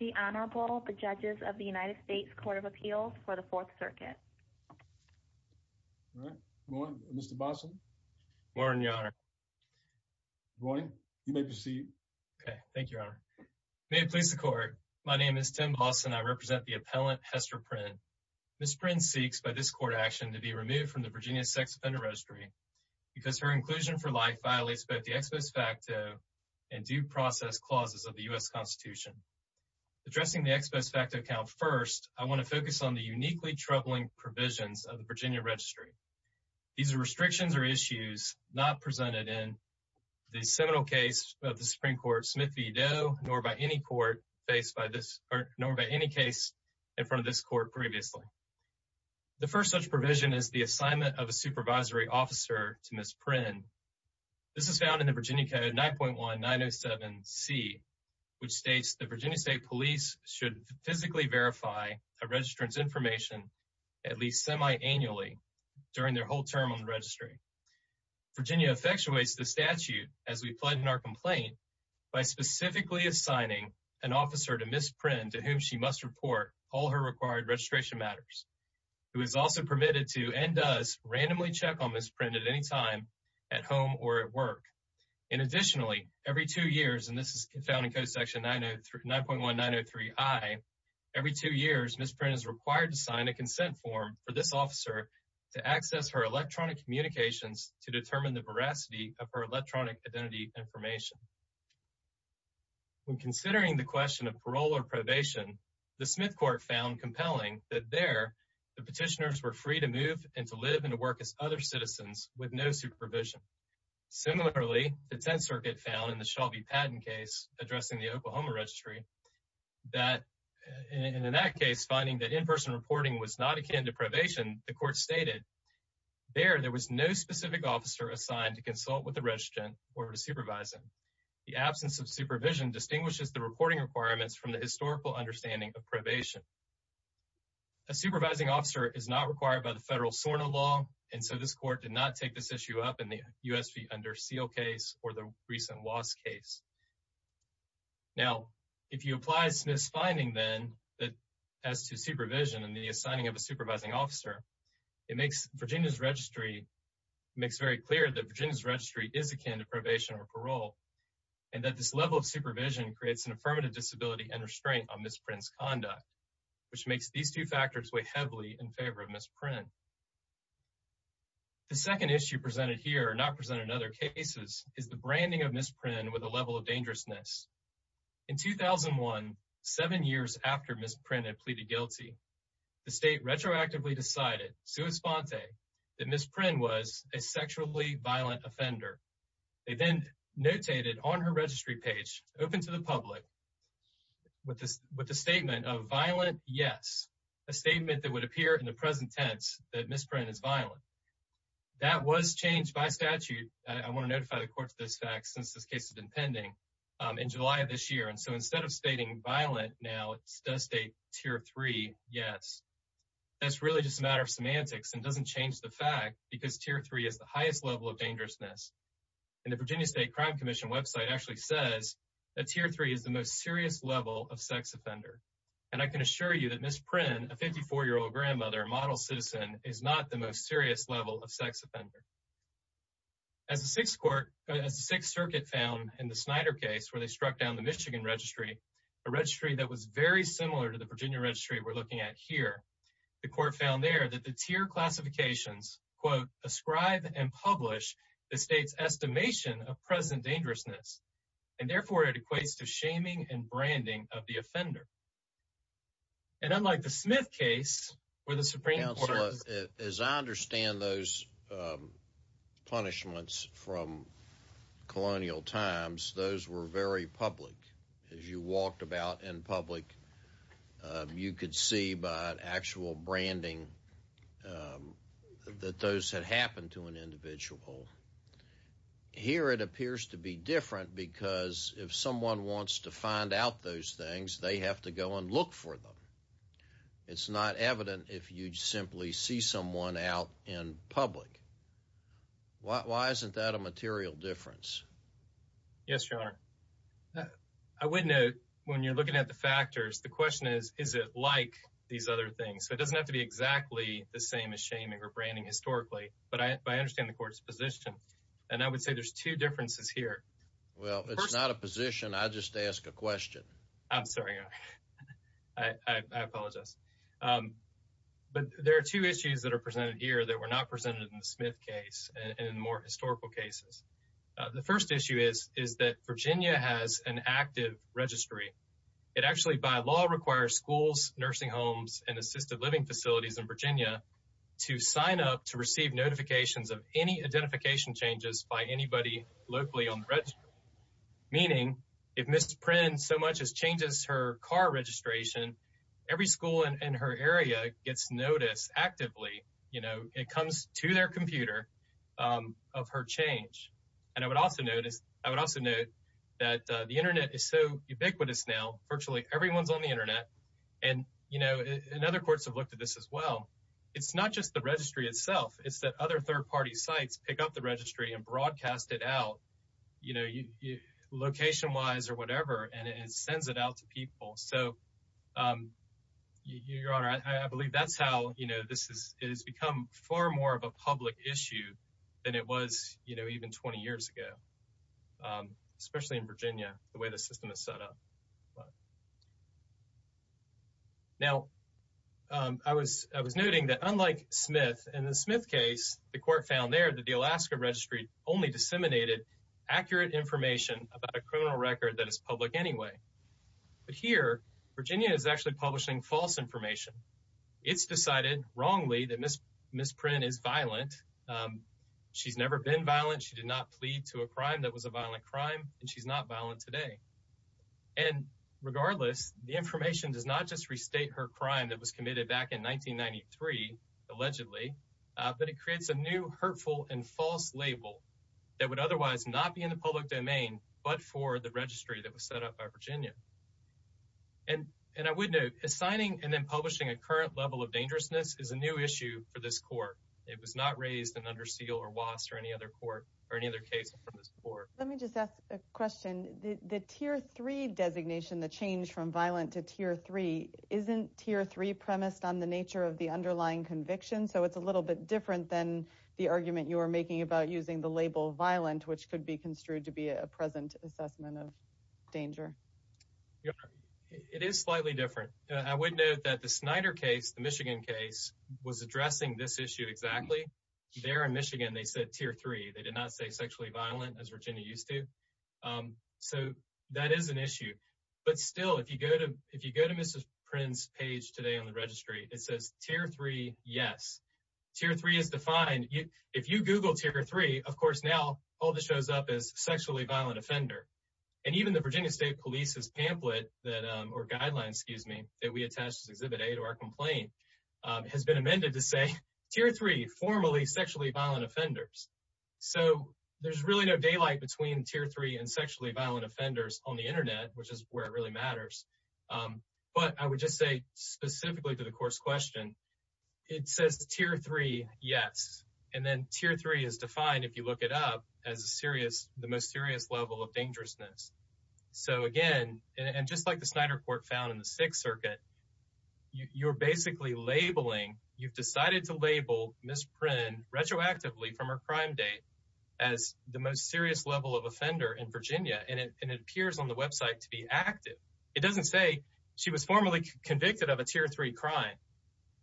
The Honorable, the Judges of the United States Court of Appeals for the 4th Circuit. Morning, Mr. Bossen. Morning, Your Honor. Morning. You may proceed. Okay. Thank you, Your Honor. May it please the Court. My name is Tim Bossen. I represent the appellant, Hester Prynne. Ms. Prynne seeks, by this court action, to be removed from the Virginia Sex Offender Registry because her inclusion for life violates both the ex post facto and due process clauses of the U.S. Constitution. Addressing the ex post facto count first, I want to focus on the uniquely troubling provisions of the Virginia Registry. These are restrictions or issues not presented in the seminal case of the Supreme Court, Smith v. Doe, nor by any court faced by this, nor by any case in front of this court previously. The first such provision is the assignment of a supervisory officer to Ms. Prynne. This is found in the Virginia Code 9.1907C, which states the Virginia State Police should physically verify a registrant's information at least semi-annually during their whole term on the registry. Virginia effectuates the statute as we pledge in our complaint by specifically assigning an officer to Ms. Prynne to whom she must report all her required registration matters. Who is also permitted to, and does, randomly check on Ms. Prynne at any time at home or at work. And additionally, every two years, and this is found in Code Section 9.1903I, every two years Ms. Prynne is required to sign a consent form for this officer to access her electronic communications to determine the veracity of her electronic identity information. When considering the question of parole or probation, the Smith Court found compelling that there, the petitioners were free to move and to live and to work as other citizens with no supervision. Similarly, the Tenth Circuit found in the Shelby Patton case addressing the Oklahoma Registry, that in that case, finding that in-person reporting was not akin to probation, the court stated, there, there was no specific officer assigned to consult with the registrant or to supervise him. The absence of supervision distinguishes the reporting requirements from the historical understanding of probation. A supervising officer is not required by the federal SORNA law, and so this court did not take this issue up in the U.S. v. Under Seal case or the recent Wass case. Now, if you apply Smith's finding then, that as to supervision and the assigning of a supervising officer, it makes Virginia's registry, it makes very clear that Virginia's registry is akin to probation or parole, and that this level of supervision creates an affirmative disability and restraint on Ms. Prynne's conduct, which makes these two factors weigh heavily in favor of Ms. Prynne. The second issue presented here, not presented in other cases, is the branding of Ms. Prynne with a level of dangerousness. In 2001, seven years after Ms. Prynne had pleaded guilty, the state retroactively decided, sua sponte, that Ms. Prynne was a sexually violent offender. They then notated on her registry page, open to the public, with the statement of violent, yes, a statement that would appear in the present tense that Ms. Prynne is violent. That was changed by statute, I want to notify the court of this fact since this case has been pending, in July of this year, and so instead of stating violent now, it does state tier three, yes. That's really just a matter of semantics and doesn't change the fact because tier three is the highest level of dangerousness. And the Virginia State Crime Commission website actually says that tier three is the most serious level of sex offender. And I can assure you that Ms. Prynne, a 54-year-old grandmother, a model citizen, is not the most serious level of sex offender. As the Sixth Circuit found in the Snyder case where they struck down the Michigan registry, a registry that was very similar to the Virginia registry we're looking at here, the court found there that the tier classifications, quote, ascribe and publish the state's estimation of present dangerousness, and therefore it equates to shaming and branding of the offender. And unlike the Smith case where the Supreme Court— Counselor, as I understand those punishments from colonial times, those were very public. As you walked about in public, you could see by actual branding that those had happened to an individual. Here it appears to be different because if someone wants to find out those things, they have to go and look for them. It's not evident if you simply see someone out in public. Why isn't that a material difference? Yes, Your Honor. I would note when you're looking at the factors, the question is, is it like these other things? So it doesn't have to be exactly the same as shaming or branding historically, but I understand the court's position. And I would say there's two differences here. Well, it's not a position. I just ask a question. I'm sorry. I apologize. But there are two issues that are presented here that were not presented in the Smith case and in more historical cases. The first issue is that Virginia has an active registry. It actually by law requires schools, nursing homes, and assisted living facilities in Virginia to sign up to receive notifications of any identification changes by anybody locally on the registry. Meaning if Ms. Prynne so much as changes her car registration, every school in her area gets notice actively. It comes to their computer of her change. And I would also note that the Internet is so ubiquitous now. Virtually everyone's on the Internet. And other courts have looked at this as well. It's not just the registry itself. It's that other third-party sites pick up the registry and broadcast it out. Location-wise or whatever, and it sends it out to people. So, Your Honor, I believe that's how this has become far more of a public issue than it was even 20 years ago, especially in Virginia, the way the system is set up. Now, I was noting that unlike Smith, in the Smith case, the court found there that the Alaska registry only disseminated accurate information about a criminal record that is public anyway. But here, Virginia is actually publishing false information. It's decided wrongly that Ms. Prynne is violent. She's never been violent. She did not plead to a crime that was a violent crime. And she's not violent today. And regardless, the information does not just restate her crime that was committed back in 1993, allegedly, but it creates a new hurtful and false label that would otherwise not be in the public domain but for the registry that was set up by Virginia. And I would note, assigning and then publishing a current level of dangerousness is a new issue for this court. It was not raised in Under Seal or WASS or any other court or any other case from this court. Let me just ask a question. The Tier 3 designation, the change from violent to Tier 3, isn't Tier 3 premised on the nature of the underlying conviction? So it's a little bit different than the argument you were making about using the label violent, which could be construed to be a present assessment of danger. It is slightly different. I would note that the Snyder case, the Michigan case, was addressing this issue exactly. There in Michigan, they said Tier 3. They did not say sexually violent, as Virginia used to. So that is an issue. But still, if you go to Mrs. Prynne's page today on the registry, it says Tier 3, yes. Tier 3 is defined. If you Google Tier 3, of course, now all that shows up is sexually violent offender. And even the Virginia State Police's pamphlet or guidelines, excuse me, that we attached as Exhibit A to our complaint has been amended to say Tier 3, formally sexually violent offenders. So there's really no daylight between Tier 3 and sexually violent offenders on the Internet, which is where it really matters. But I would just say specifically to the court's question, it says Tier 3, yes. And then Tier 3 is defined, if you look it up, as the most serious level of dangerousness. So again, and just like the Snyder court found in the Sixth Circuit, you're basically labeling, you've decided to label Mrs. Prynne retroactively from her crime date as the most serious level of offender in Virginia. And it appears on the website to be active. It doesn't say she was formally convicted of a Tier 3 crime.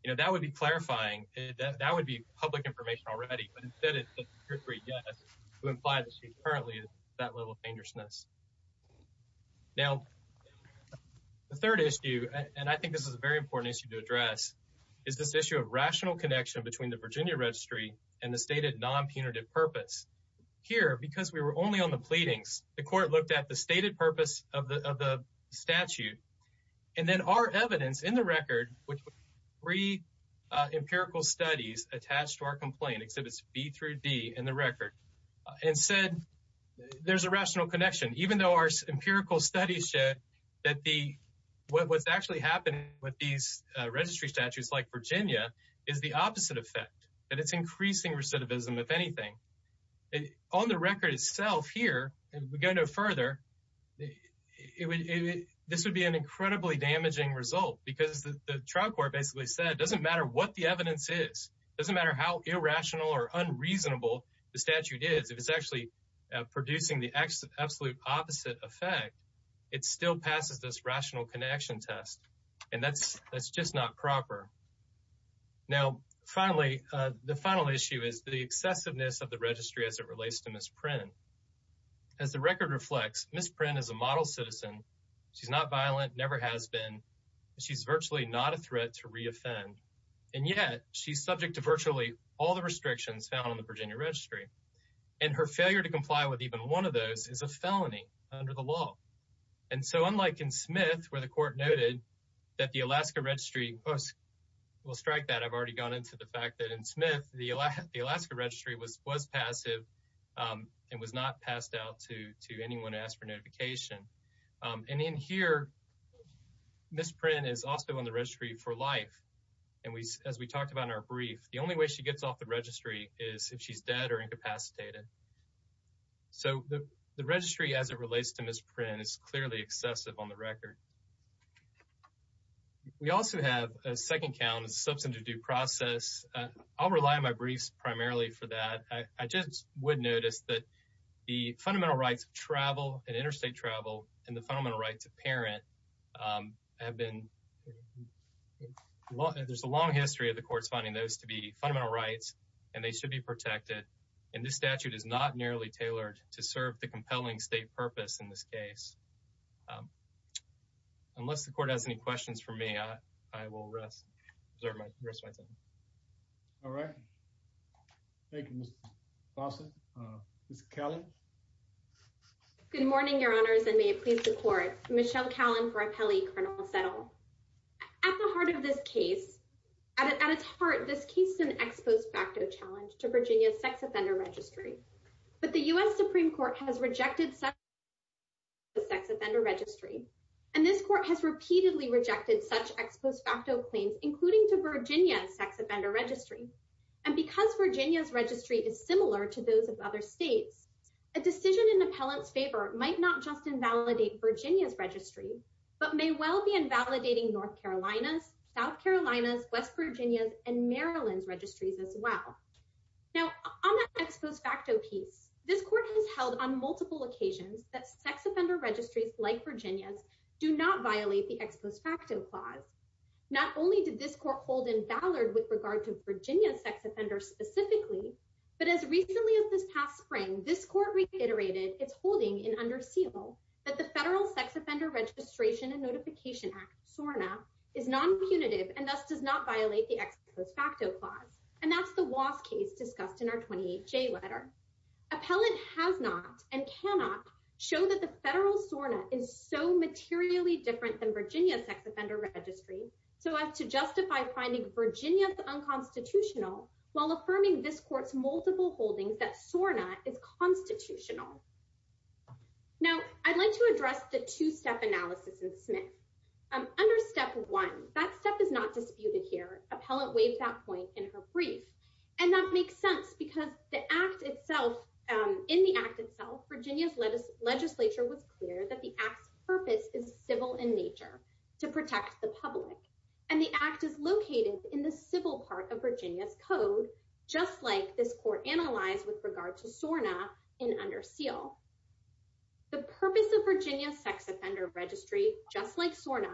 You know, that would be clarifying. That would be public information already. But instead it says Tier 3, yes, to imply that she's currently at that level of dangerousness. Now, the third issue, and I think this is a very important issue to address, is this issue of rational connection between the Virginia Registry and the stated non-punitive purpose. Here, because we were only on the pleadings, the court looked at the stated purpose of the statute. And then our evidence in the record, three empirical studies attached to our complaint, Exhibits B through D in the record, and said there's a rational connection. Even though our empirical studies show that what's actually happening with these registry statutes like Virginia is the opposite effect, that it's increasing recidivism, if anything. On the record itself here, if we go no further, this would be an incredibly damaging result because the trial court basically said it doesn't matter what the evidence is. It doesn't matter how irrational or unreasonable the statute is. If it's actually producing the absolute opposite effect, it still passes this rational connection test. And that's just not proper. Now, finally, the final issue is the excessiveness of the registry as it relates to Ms. Prynne. As the record reflects, Ms. Prynne is a model citizen. She's not violent, never has been. She's virtually not a threat to re-offend. And yet, she's subject to virtually all the restrictions found in the Virginia Registry. And her failure to comply with even one of those is a felony under the law. And so, unlike in Smith, where the court noted that the Alaska Registry, we'll strike that. I've already gone into the fact that in Smith, the Alaska Registry was passive and was not passed out to anyone to ask for notification. And in here, Ms. Prynne is also on the registry for life. And as we talked about in our brief, the only way she gets off the registry is if she's dead or incapacitated. So, the registry as it relates to Ms. Prynne is clearly excessive on the record. We also have a second count, a substantive due process. I'll rely on my briefs primarily for that. I just would notice that the fundamental rights of travel and interstate travel and the fundamental rights of parent have been – there's a long history of the courts finding those to be fundamental rights, and they should be protected. And this statute is not nearly tailored to serve the compelling state purpose in this case. Unless the court has any questions for me, I will rest my time. All right. Thank you, Mr. Fawcett. Ms. Callan. Good morning, Your Honors, and may it please the court. Michelle Callan for Appelli, Colonel Settle. At the heart of this case – at its heart, this case is an ex post facto challenge to Virginia's sex offender registry. But the U.S. Supreme Court has rejected such claims to the sex offender registry, and this court has repeatedly rejected such ex post facto claims, including to Virginia's sex offender registry. And because Virginia's registry is similar to those of other states, a decision in Appellant's favor might not just invalidate Virginia's registry, but may well be invalidating North Carolina's, South Carolina's, West Virginia's, and Maryland's registries as well. Now, on that ex post facto piece, this court has held on multiple occasions that sex offender registries like Virginia's do not violate the ex post facto clause. Not only did this court hold in Ballard with regard to Virginia's sex offender specifically, but as recently as this past spring, this court reiterated its holding in Under Seal that the Federal Sex Offender Registration and Notification Act, SORNA, is non-punitive and thus does not violate the ex post facto clause. And that's the Wass case discussed in our 28J letter. Appellant has not, and cannot, show that the federal SORNA is so materially different than Virginia's sex offender registry so as to justify finding Virginia's unconstitutional while affirming this court's multiple holdings that SORNA is constitutional. Now, I'd like to address the two-step analysis in Smith. Under Step 1, that step is not disputed here. Appellant waived that point in her brief. And that makes sense because the act itself, in the act itself, Virginia's legislature was clear that the act's purpose is civil in nature, to protect the public. And the act is located in the civil part of Virginia's code, just like this court analyzed with regard to SORNA in Under Seal. The purpose of Virginia's sex offender registry, just like SORNA,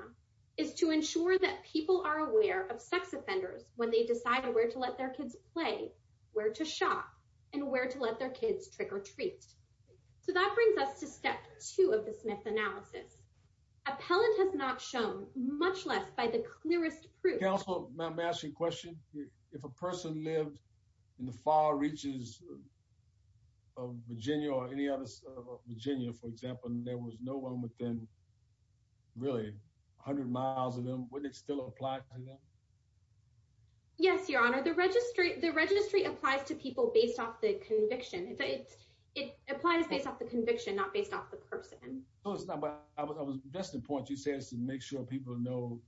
is to ensure that people are aware of sex offenders when they decide where to let their kids play, where to shop, and where to let their kids trick or treat. So that brings us to Step 2 of the Smith analysis. Appellant has not shown, much less by the clearest proof Counsel, may I ask you a question? If a person lived in the far reaches of Virginia or any other state of Virginia, for example, and there was no one within, really, 100 miles of them, would it still apply to them? Yes, Your Honor. The registry applies to people based off the conviction. It applies based off the conviction, not based off the person. That's the point you said, is to make sure people know,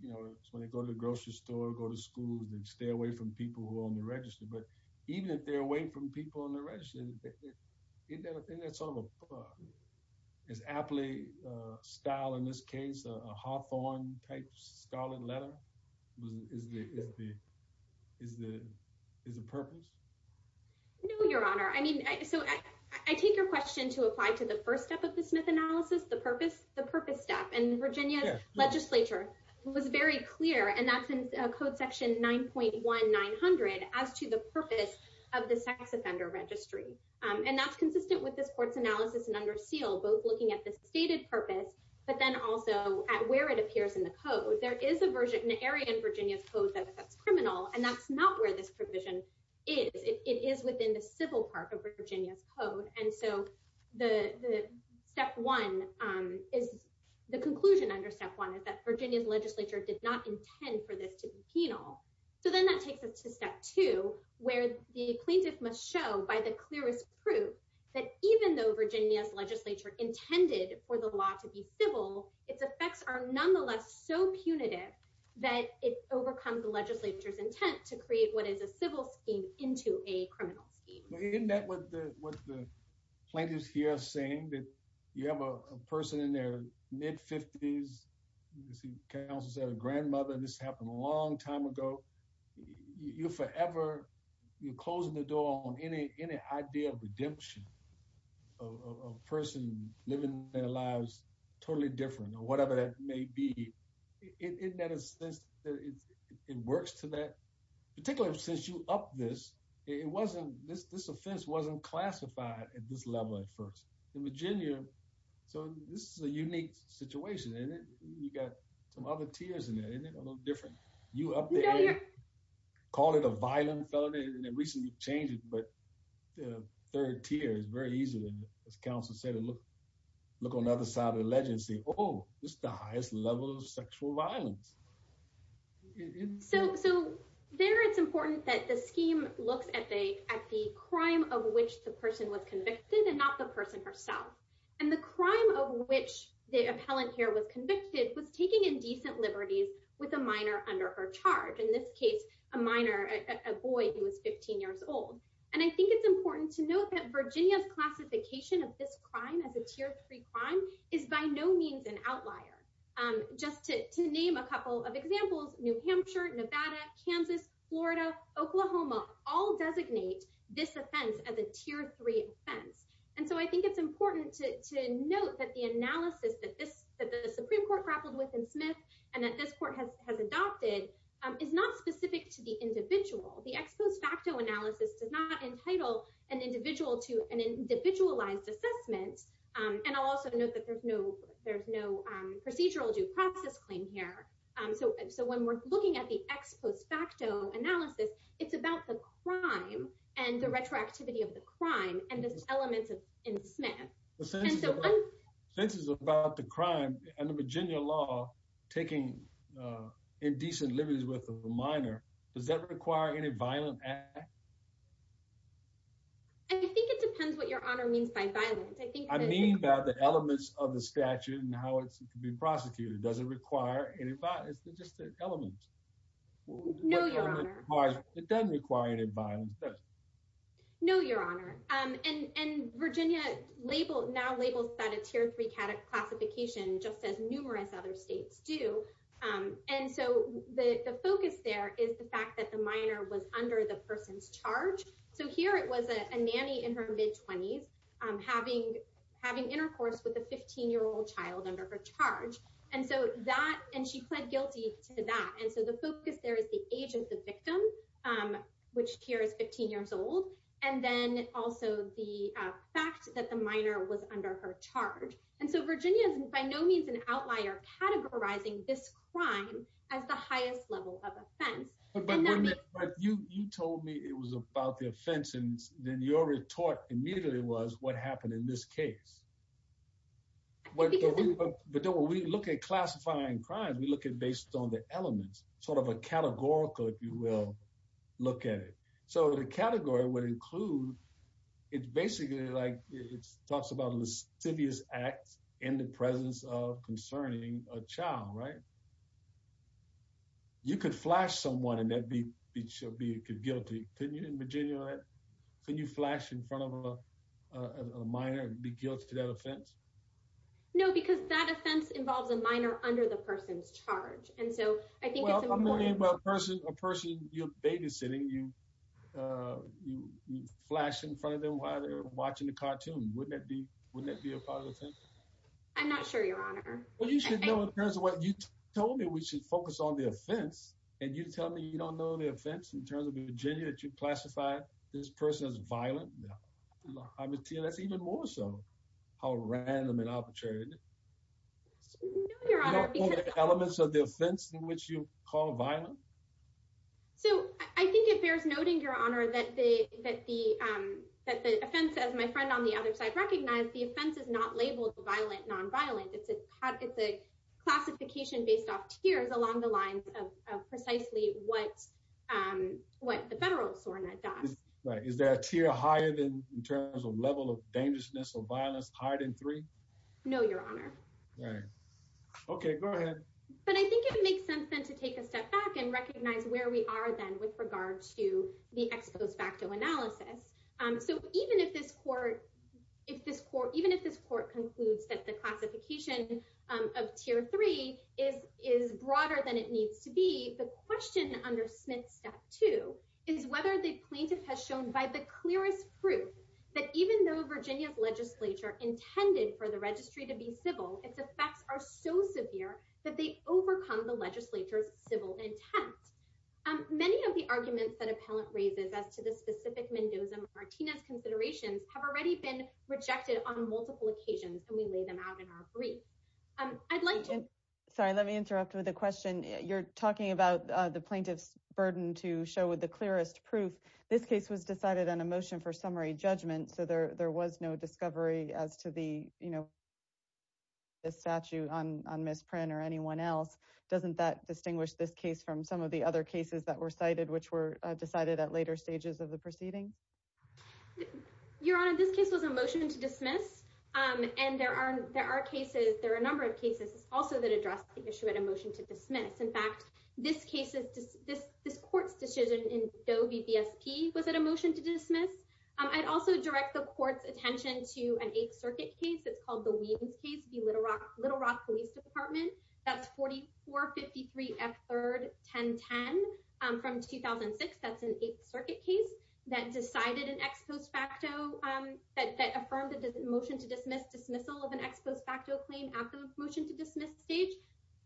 you know, when they go to the grocery store or go to school, they stay away from people who are on the registry. But even if they're away from people on the registry, isn't that sort of an aptly styled, in this case, a Hawthorne type scholarly letter? Is the purpose? No, Your Honor. I mean, so I take your question to apply to the first step of the Smith analysis, the purpose step. And Virginia's legislature was very clear, and that's in Code Section 9.1900, as to the purpose of the sex offender registry. And that's consistent with this court's analysis in under seal, both looking at the stated purpose, but then also at where it appears in the code. There is an area in Virginia's code that's criminal, and that's not where this provision is. It is within the civil part of Virginia's code. And so the step one is the conclusion under step one is that Virginia's legislature did not intend for this to be penal. So then that takes us to step two, where the plaintiff must show by the clearest proof that even though that it overcomes the legislature's intent to create what is a civil scheme into a criminal scheme. Isn't that what the plaintiffs here are saying, that you have a person in their mid-50s, as you can also say, a grandmother, and this happened a long time ago. You're forever, you're closing the door on any idea of redemption, of a person living their lives totally different or whatever that may be. Isn't that a sense that it works to that, particularly since you upped this, this offense wasn't classified at this level at first. In Virginia, so this is a unique situation, and you got some other tiers in it, isn't it? A little different. You up there, call it a violent felony, and it recently changed, but the third tier is very easy. As counsel said, look on the other side of the ledge and say, oh, this is the highest level of sexual violence. So there it's important that the scheme looks at the crime of which the person was convicted and not the person herself. And the crime of which the appellant here was convicted was taking indecent liberties with a minor under her charge. In this case, a minor, a boy who was 15 years old. And I think it's important to note that Virginia's classification of this crime as a tier three crime is by no means an outlier. Just to name a couple of examples, New Hampshire, Nevada, Kansas, Florida, Oklahoma, all designate this offense as a tier three offense. And so I think it's important to note that the analysis that the Supreme Court grappled with in Smith and that this court has adopted is not specific to the individual. The ex post facto analysis does not entitle an individual to an individualized assessment. And I'll also note that there's no procedural due process claim here. So when we're looking at the ex post facto analysis, it's about the crime and the retroactivity of the crime and the elements in Smith. This is about the crime and the Virginia law taking indecent liberties with a minor. Does that require any violent act? I think it depends what your honor means by violence. I mean by the elements of the statute and how it can be prosecuted. Does it require any violence? No, your honor. It doesn't require any violence, does it? No, your honor. And Virginia now labels that a tier three classification just as numerous other states do. And so the focus there is the fact that the minor was under the person's charge. So here it was a nanny in her mid 20s having having intercourse with a 15 year old child under her charge. And so that and she pled guilty to that. And so the focus there is the age of the victim, which here is 15 years old. And then also the fact that the minor was under her charge. And so Virginia is by no means an outlier categorizing this crime as the highest level of offense. But you told me it was about the offense. And then your retort immediately was what happened in this case. But when we look at classifying crimes, we look at based on the elements, sort of a categorical, if you will, look at it. So the category would include it's basically like it talks about lascivious acts in the presence of concerning a child. Right. You could flash someone and they'd be guilty in Virginia. Can you flash in front of a minor and be guilty of that offense? No, because that offense involves a minor under the person's charge. And so I think a person, a person you're babysitting, you flash in front of them while they're watching the cartoon. Wouldn't that be wouldn't that be a part of the thing? I'm not sure, Your Honor. Well, you should know in terms of what you told me, we should focus on the offense. And you tell me you don't know the offense in terms of Virginia that you classify this person as violent. I mean, that's even more so how random and arbitrary. You don't know the elements of the offense in which you call violent? So I think it bears noting, Your Honor, that the that the that the offense, as my friend on the other side, recognized the offense is not labeled violent, nonviolent. It's a it's a classification based off tiers along the lines of precisely what what the federal SORNA does. Is there a tier higher than in terms of level of dangerousness or violence, higher than three? No, Your Honor. Right. OK, go ahead. But I think it makes sense then to take a step back and recognize where we are then with regard to the ex post facto analysis. So even if this court, if this court, even if this court concludes that the classification of tier three is is broader than it needs to be. The question under Smith's step two is whether the plaintiff has shown by the clearest proof that even though Virginia's legislature intended for the registry to be civil, its effects are so severe that they overcome the legislature's civil intent. Many of the arguments that appellant raises as to the specific Mendoza Martinez considerations have already been rejected on multiple occasions. And we lay them out in our brief. I'd like to. Sorry, let me interrupt with a question. You're talking about the plaintiff's burden to show with the clearest proof. This case was decided on a motion for summary judgment. So there there was no discovery as to the. The statute on misprint or anyone else, doesn't that distinguish this case from some of the other cases that were cited, which were decided at later stages of the proceedings? Your Honor, this case was a motion to dismiss, and there are there are cases. There are a number of cases also that address the issue at a motion to dismiss. In fact, this case is this this court's decision in Doe v. B.S.P. Was it a motion to dismiss? I'd also direct the court's attention to an Eighth Circuit case. It's called the Weems case. Little Rock. Little Rock Police Department. That's forty four fifty three. F third ten ten from 2006. That's an Eighth Circuit case that decided an ex post facto that affirmed the motion to dismiss dismissal of an ex post facto claim at the motion to dismiss stage.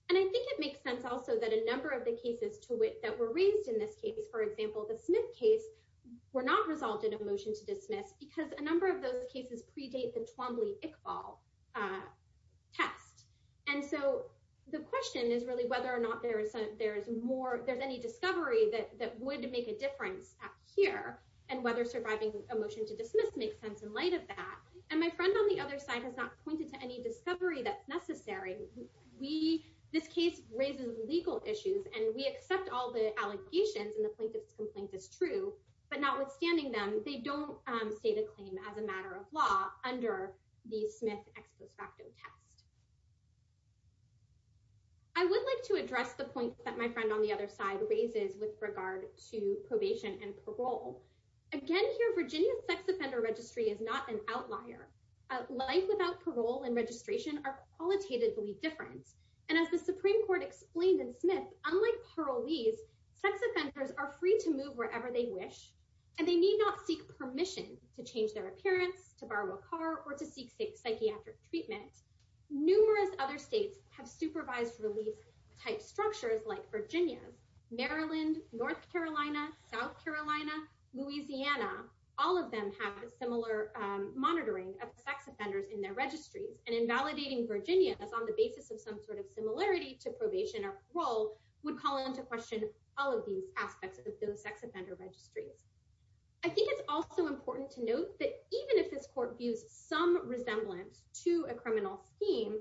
And I think it makes sense also that a number of the cases to which that were raised in this case, for example, the Smith case were not resolved in a motion to dismiss because a number of those cases predate the Twombly Iqbal test. And so the question is really whether or not there is there is more there's any discovery that would make a difference here and whether surviving a motion to dismiss makes sense in light of that. And my friend on the other side has not pointed to any discovery that's necessary. We this case raises legal issues and we accept all the allegations and the plaintiff's complaint is true. But notwithstanding them, they don't state a claim as a matter of law under the Smith ex post facto test. I would like to address the point that my friend on the other side raises with regard to probation and parole. Again, here, Virginia's sex offender registry is not an outlier. Life without parole and registration are qualitatively different. And as the Supreme Court explained in Smith, unlike parolees, sex offenders are free to move wherever they wish. And they need not seek permission to change their appearance to borrow a car or to seek psychiatric treatment. Numerous other states have supervised release type structures like Virginia's, Maryland, North Carolina, South Carolina, Louisiana. All of them have a similar monitoring of sex offenders in their registries and invalidating Virginia's on the basis of some sort of similarity to probation or parole would call into question all of these aspects of those sex offender registries. I think it's also important to note that even if this court views some resemblance to a criminal scheme,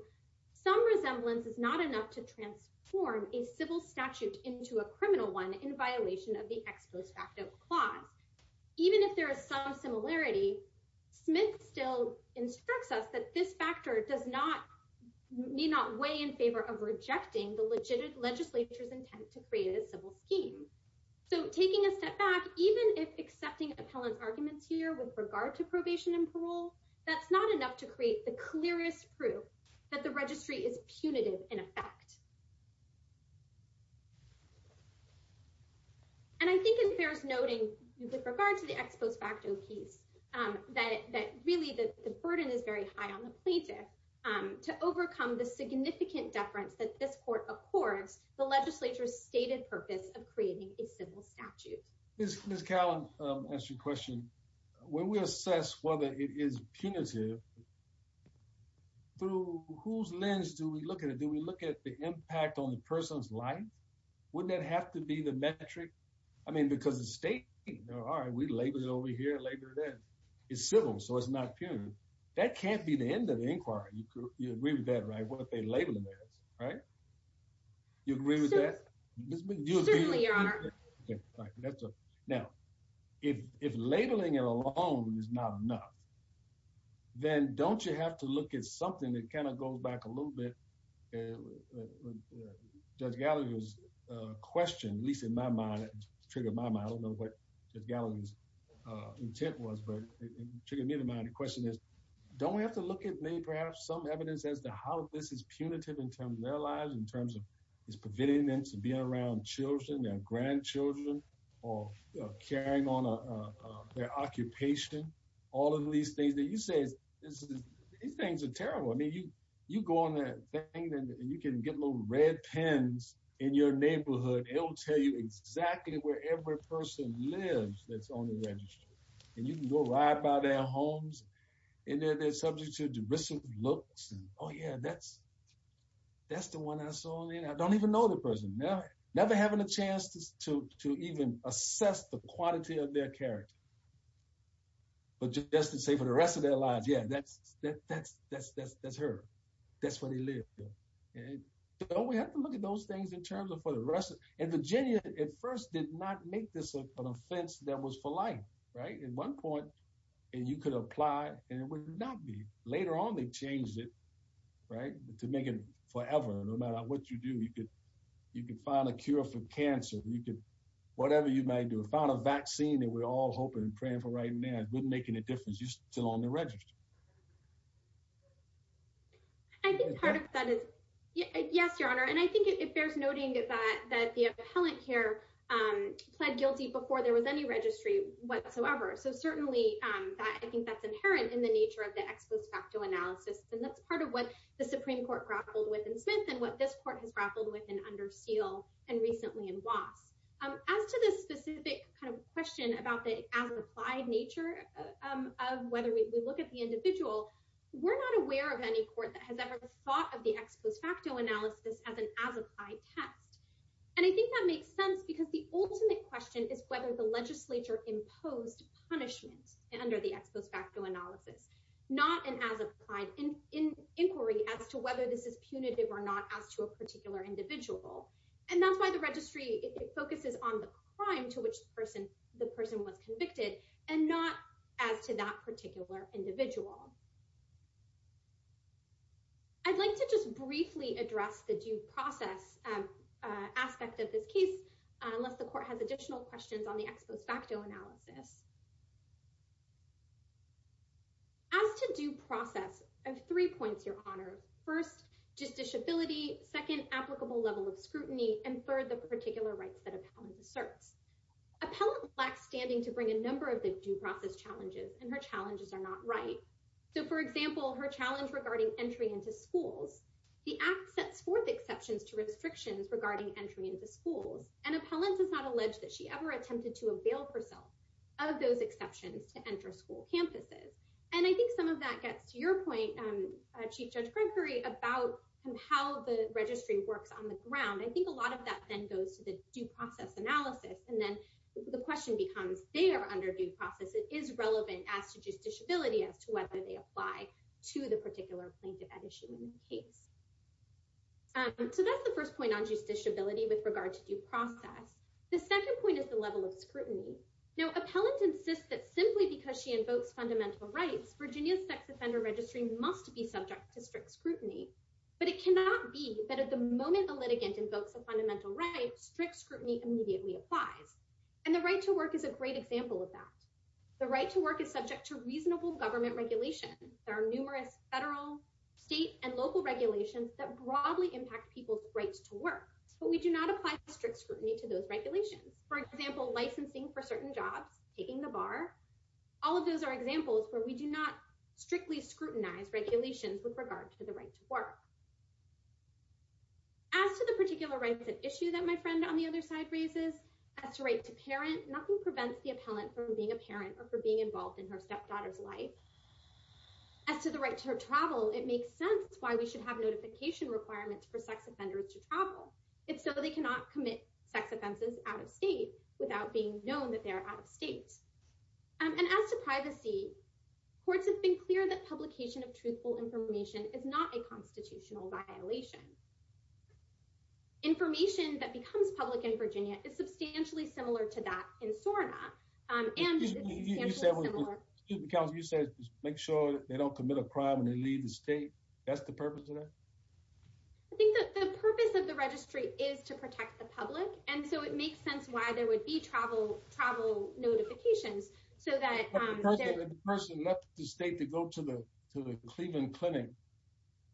some resemblance is not enough to transform a civil statute into a criminal one in violation of the ex post facto clause. Even if there is some similarity, Smith still instructs us that this factor does not, may not weigh in favor of rejecting the legitimate legislature's intent to create a civil scheme. So taking a step back, even if accepting appellant's arguments here with regard to probation and parole, that's not enough to create the clearest proof that the registry is punitive in effect. And I think it bears noting with regard to the ex post facto piece that really the burden is very high on the plaintiff to overcome the significant deference that this court accords the legislature's stated purpose of creating a civil statute. Ms. Callum asked you a question. When we assess whether it is punitive, through whose lens do we look at it? Do we look at the impact on the person's life? Wouldn't that have to be the metric? I mean, because the state, all right, we label it over here, label it there. It's civil, so it's not punitive. That can't be the end of the inquiry. You agree with that, right, what they label it as, right? You agree with that? Certainly, Your Honor. Now, if labeling it alone is not enough, then don't you have to look at something that kind of goes back a little bit, Judge Galloway's question, at least in my mind, it triggered my mind. I don't know what Judge Galloway's intent was, but it triggered me in my mind. The question is, don't we have to look at maybe perhaps some evidence as to how this is punitive in terms of their lives, in terms of it's preventing them from being around children, their grandchildren, or carrying on their occupation? All of these things that you say, these things are terrible. I mean, you go on that thing and you can get little red pens in your neighborhood. It will tell you exactly where every person lives that's on the registry. And you can go ride by their homes. And they're subject to derisive looks. Oh, yeah, that's the one I saw. I don't even know the person. Never having a chance to even assess the quantity of their character. But just to say for the rest of their lives, yeah, that's her. That's where they live. So we have to look at those things in terms of for the rest. And Virginia at first did not make this an offense that was for life. At one point, you could apply and it would not be. Later on, they changed it to make it forever. No matter what you do, you can find a cure for cancer. Whatever you might do, find a vaccine that we're all hoping and praying for right now. It wouldn't make any difference. You're still on the registry. I think part of that is, yes, Your Honor. And I think it bears noting that the appellant here pled guilty before there was any registry whatsoever. So certainly I think that's inherent in the nature of the ex post facto analysis. And that's part of what the Supreme Court grappled with in Smith and what this court has grappled with in under seal. And recently in loss as to the specific kind of question about the applied nature of whether we look at the individual. We're not aware of any court that has ever thought of the ex post facto analysis as an as applied test. And I think that makes sense because the ultimate question is whether the legislature imposed punishment under the ex post facto analysis. Not an as applied inquiry as to whether this is punitive or not as to a particular individual. And that's why the registry focuses on the crime to which the person was convicted and not as to that particular individual. I'd like to just briefly address the due process aspect of this case, unless the court has additional questions on the ex post facto analysis. As to due process, I have three points, Your Honor. First, just disability. Second, applicable level of scrutiny. And third, the particular rights that appellant asserts. Appellant lacks standing to bring a number of the due process challenges and her challenges are not right. So, for example, her challenge regarding entry into schools. The act sets forth exceptions to restrictions regarding entry into schools. And appellant does not allege that she ever attempted to avail herself of those exceptions to enter school campuses. And I think some of that gets to your point, Chief Judge Gregory, about how the registry works on the ground. I think a lot of that then goes to the due process analysis. And then the question becomes, they are under due process. It is relevant as to just disability as to whether they apply to the particular plaintiff at issue in the case. So that's the first point on just disability with regard to due process. The second point is the level of scrutiny. Now, appellant insists that simply because she invokes fundamental rights, Virginia's sex offender registry must be subject to strict scrutiny. But it cannot be that at the moment the litigant invokes a fundamental right, strict scrutiny immediately applies. And the right to work is a great example of that. The right to work is subject to reasonable government regulation. There are numerous federal, state, and local regulations that broadly impact people's rights to work. But we do not apply strict scrutiny to those regulations. For example, licensing for certain jobs, taking the bar, all of those are examples where we do not strictly scrutinize regulations with regard to the right to work. As to the particular rights at issue that my friend on the other side raises, as to right to parent, nothing prevents the appellant from being a parent or for being involved in her stepdaughter's life. As to the right to her travel, it makes sense why we should have notification requirements for sex offenders to travel. If so, they cannot commit sex offenses out of state without being known that they are out of state. And as to privacy, courts have been clear that publication of truthful information is not a constitutional violation. Information that becomes public in Virginia is substantially similar to that in SORNA. You said make sure they don't commit a crime when they leave the state. That's the purpose of that? I think the purpose of the registry is to protect the public. And so it makes sense why there would be travel notifications. If a person left the state to go to the Cleveland Clinic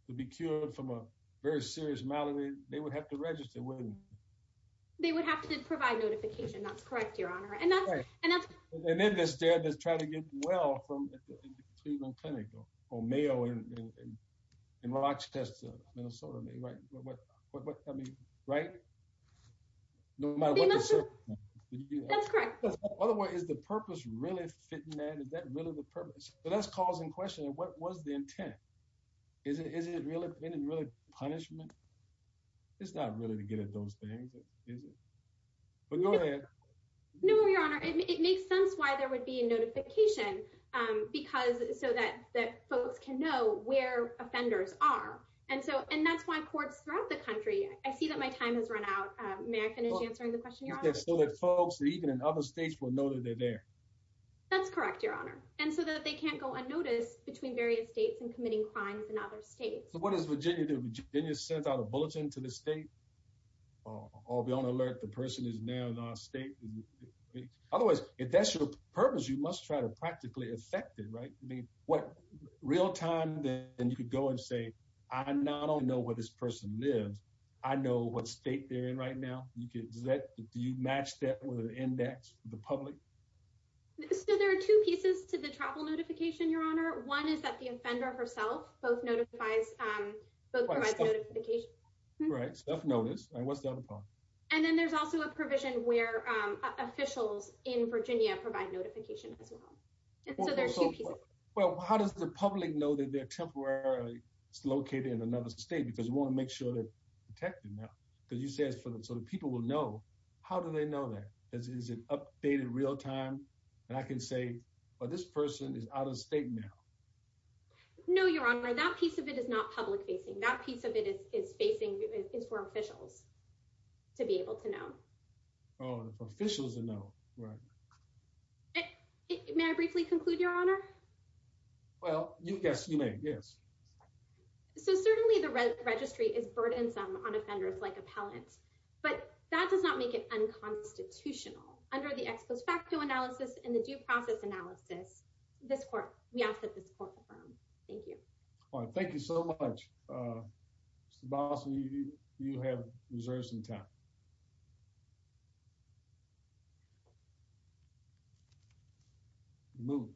to be cured from a very serious malady, they would have to register, wouldn't they? They would have to provide notification. That's correct, Your Honor. And then this dad that's trying to get well from the Cleveland Clinic or Mayo in Rochester, Minnesota, right? That's correct. Otherwise, is the purpose really fitting that? Is that really the purpose? But that's causing questions. What was the intent? Is it really punishment? It's not really to get at those things, is it? No, Your Honor. It makes sense why there would be a notification so that folks can know where offenders are. And that's why courts throughout the country. I see that my time has run out. May I finish answering the question, Your Honor? So that folks even in other states will know that they're there. That's correct, Your Honor. And so that they can't go unnoticed between various states and committing crimes in other states. So what does Virginia do? Virginia sends out a bulletin to the state. I'll be on alert. The person is now in our state. Otherwise, if that's your purpose, you must try to practically affect it, right? Real time, then you could go and say, I not only know where this person lives, I know what state they're in right now. Do you match that with an index for the public? So there are two pieces to the travel notification, Your Honor. One is that the offender herself both notifies, both provides notification. Right. Self-notice. And what's the other part? And then there's also a provision where officials in Virginia provide notification as well. So there are two pieces. Well, how does the public know that they're temporarily located in another state? Because we want to make sure they're protected now. Because you said so the people will know. How do they know that? Is it updated real time? And I can say, well, this person is out of state now. No, Your Honor, that piece of it is not public facing. That piece of it is facing is for officials to be able to know. Oh, for officials to know. Right. May I briefly conclude, Your Honor? Well, yes, you may. Yes. So certainly the registry is burdensome on offenders like appellants. But that does not make it unconstitutional. Under the ex post facto analysis and the due process analysis, this court, we ask that this court affirm. Thank you. Thank you so much, Mr. Bosley. You have reserves in town. Move.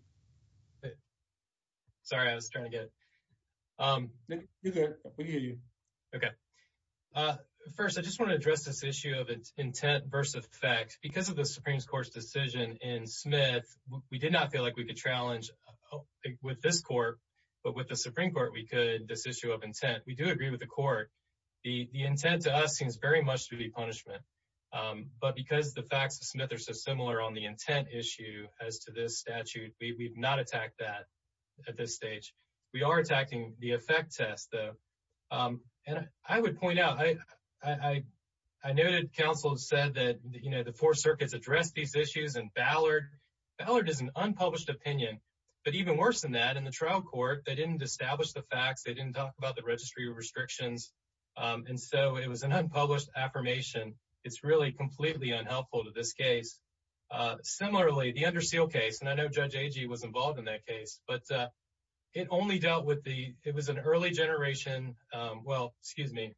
Sorry, I was trying to get it. OK. First, I just want to address this issue of intent versus effect because of the Supreme Court's decision in Smith. We did not feel like we could challenge with this court, but with the Supreme Court, we could this issue of intent. We do agree with the court. The intent to us seems very much to be punishment. But because the facts of Smith are so similar on the intent issue as to this statute, we've not attacked that at this stage. We are attacking the effect test, though. And I would point out, I noted counsel said that the four circuits addressed these issues and Ballard. Ballard is an unpublished opinion. But even worse than that, in the trial court, they didn't establish the facts. They didn't talk about the registry restrictions. And so it was an unpublished affirmation. It's really completely unhelpful to this case. Similarly, the under seal case, and I know Judge Agee was involved in that case, but it only dealt with the it was an early generation. Well, excuse me,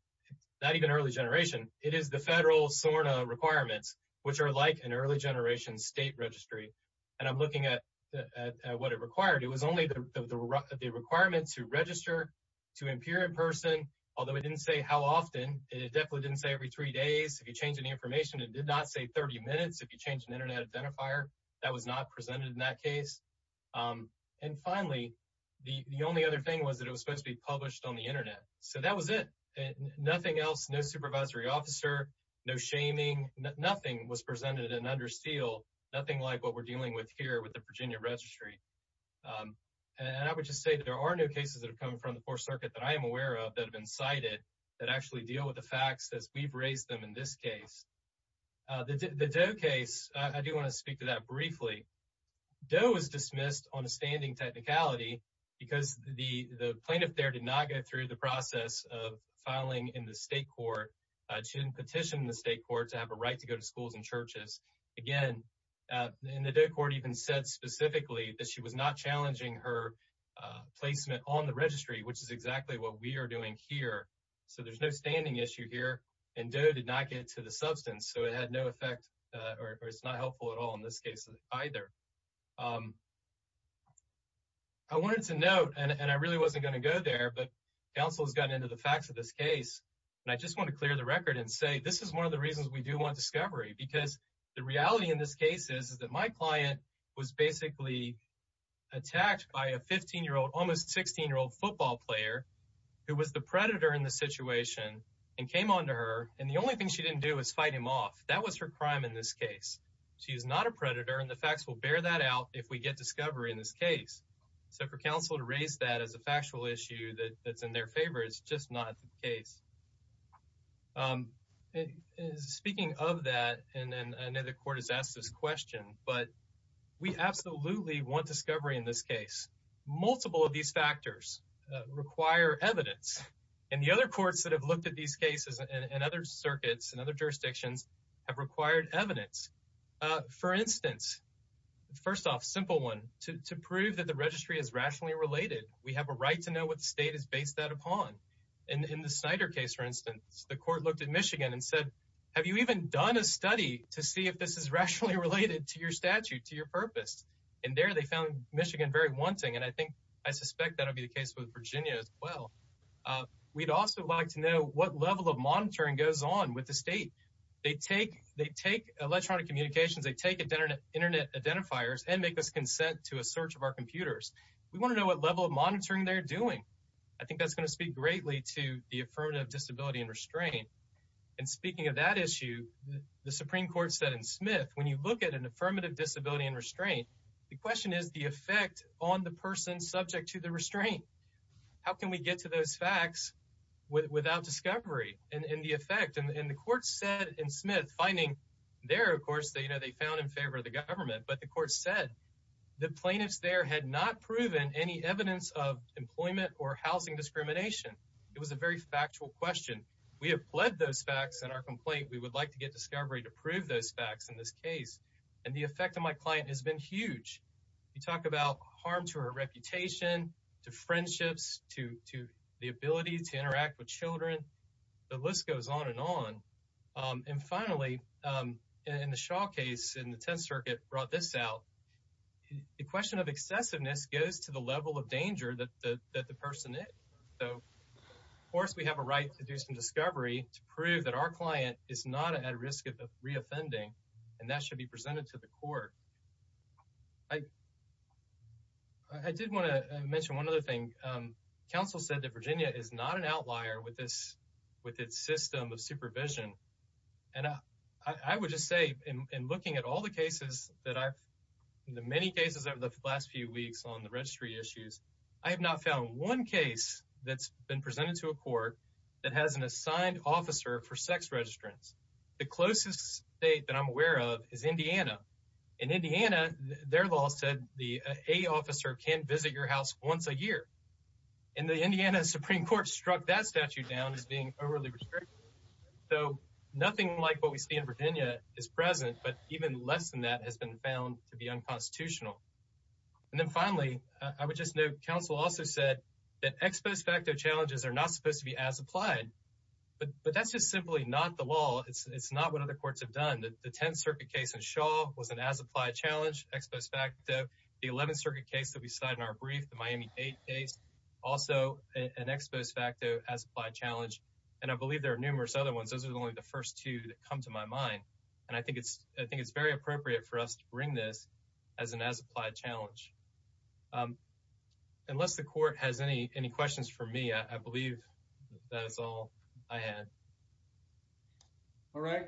not even early generation. It is the federal SORNA requirements, which are like an early generation state registry. And I'm looking at what it required. It was only the requirements to register to appear in person, although it didn't say how often. It definitely didn't say every three days. If you change any information, it did not say 30 minutes. If you change an Internet identifier, that was not presented in that case. And finally, the only other thing was that it was supposed to be published on the Internet. So that was it. Nothing else. No supervisory officer. No shaming. Nothing was presented in under seal. Nothing like what we're dealing with here with the Virginia registry. And I would just say that there are no cases that have come from the 4th Circuit that I am aware of that have been cited that actually deal with the facts as we've raised them in this case. The Doe case, I do want to speak to that briefly. Doe was dismissed on a standing technicality because the plaintiff there did not go through the process of filing in the state court. She didn't petition the state court to have a right to go to schools and churches. Again, the Doe court even said specifically that she was not challenging her placement on the registry, which is exactly what we are doing here. So there's no standing issue here. And Doe did not get to the substance. So it had no effect or it's not helpful at all in this case either. I wanted to note and I really wasn't going to go there, but counsel has gotten into the facts of this case. And I just want to clear the record and say this is one of the reasons we do want discovery because the reality in this case is that my client was basically attacked by a 15-year-old, almost 16-year-old football player who was the predator in the situation and came on to her. And the only thing she didn't do is fight him off. That was her crime in this case. She is not a predator. And the facts will bear that out if we get discovery in this case. So for counsel to raise that as a factual issue that's in their favor is just not the case. Speaking of that, and I know the court has asked this question, but we absolutely want discovery in this case. Multiple of these factors require evidence. And the other courts that have looked at these cases and other circuits and other jurisdictions have required evidence. For instance, first off, simple one, to prove that the registry is rationally related, we have a right to know what the state is based that upon. And in the Snyder case, for instance, the court looked at Michigan and said, have you even done a study to see if this is rationally related to your statute, to your purpose? And there they found Michigan very wanting. And I think I suspect that will be the case with Virginia as well. We'd also like to know what level of monitoring goes on with the state. They take electronic communications, they take Internet identifiers and make us consent to a search of our computers. We want to know what level of monitoring they're doing. I think that's going to speak greatly to the affirmative disability and restraint. And speaking of that issue, the Supreme Court said in Smith, when you look at an affirmative disability and restraint, the question is the effect on the person subject to the restraint. How can we get to those facts without discovery and the effect? And the court said in Smith finding there, of course, they found in favor of the government. But the court said the plaintiffs there had not proven any evidence of employment or housing discrimination. It was a very factual question. We have pled those facts in our complaint. We would like to get discovery to prove those facts in this case. And the effect on my client has been huge. You talk about harm to her reputation, to friendships, to the ability to interact with children. The list goes on and on. And finally, in the Shaw case in the Tenth Circuit brought this out. The question of excessiveness goes to the level of danger that the person is. So, of course, we have a right to do some discovery to prove that our client is not at risk of reoffending. And that should be presented to the court. I did want to mention one other thing. Counsel said that Virginia is not an outlier with its system of supervision. And I would just say in looking at all the cases, the many cases over the last few weeks on the registry issues, I have not found one case that's been presented to a court that has an assigned officer for sex registrants. The closest state that I'm aware of is Indiana. In Indiana, their law said the A officer can visit your house once a year. And the Indiana Supreme Court struck that statute down as being overly restrictive. So nothing like what we see in Virginia is present, but even less than that has been found to be unconstitutional. And then finally, I would just note counsel also said that ex post facto challenges are not supposed to be as applied. But that's just simply not the law. It's not what other courts have done. The 10th Circuit case in Shaw was an as-applied challenge, ex post facto. The 11th Circuit case that we cited in our brief, the Miami 8 case, also an ex post facto as-applied challenge. And I believe there are numerous other ones. Those are only the first two that come to my mind. And I think it's very appropriate for us to bring this as an as-applied challenge. Unless the court has any questions for me, I believe that is all I had. All right.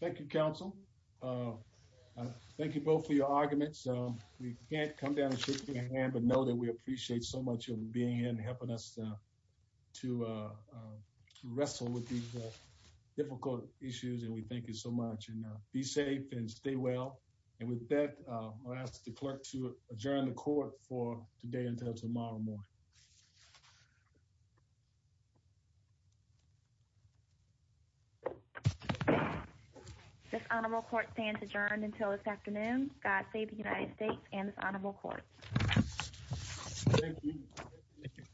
Thank you, counsel. Thank you both for your arguments. We can't come down and shake your hand, but know that we appreciate so much of being here and helping us to wrestle with these difficult issues. And we thank you so much. And be safe and stay well. And with that, I'll ask the clerk to adjourn the court for today until tomorrow morning. This honorable court stands adjourned until this afternoon. God save the United States and this honorable court. Thank you.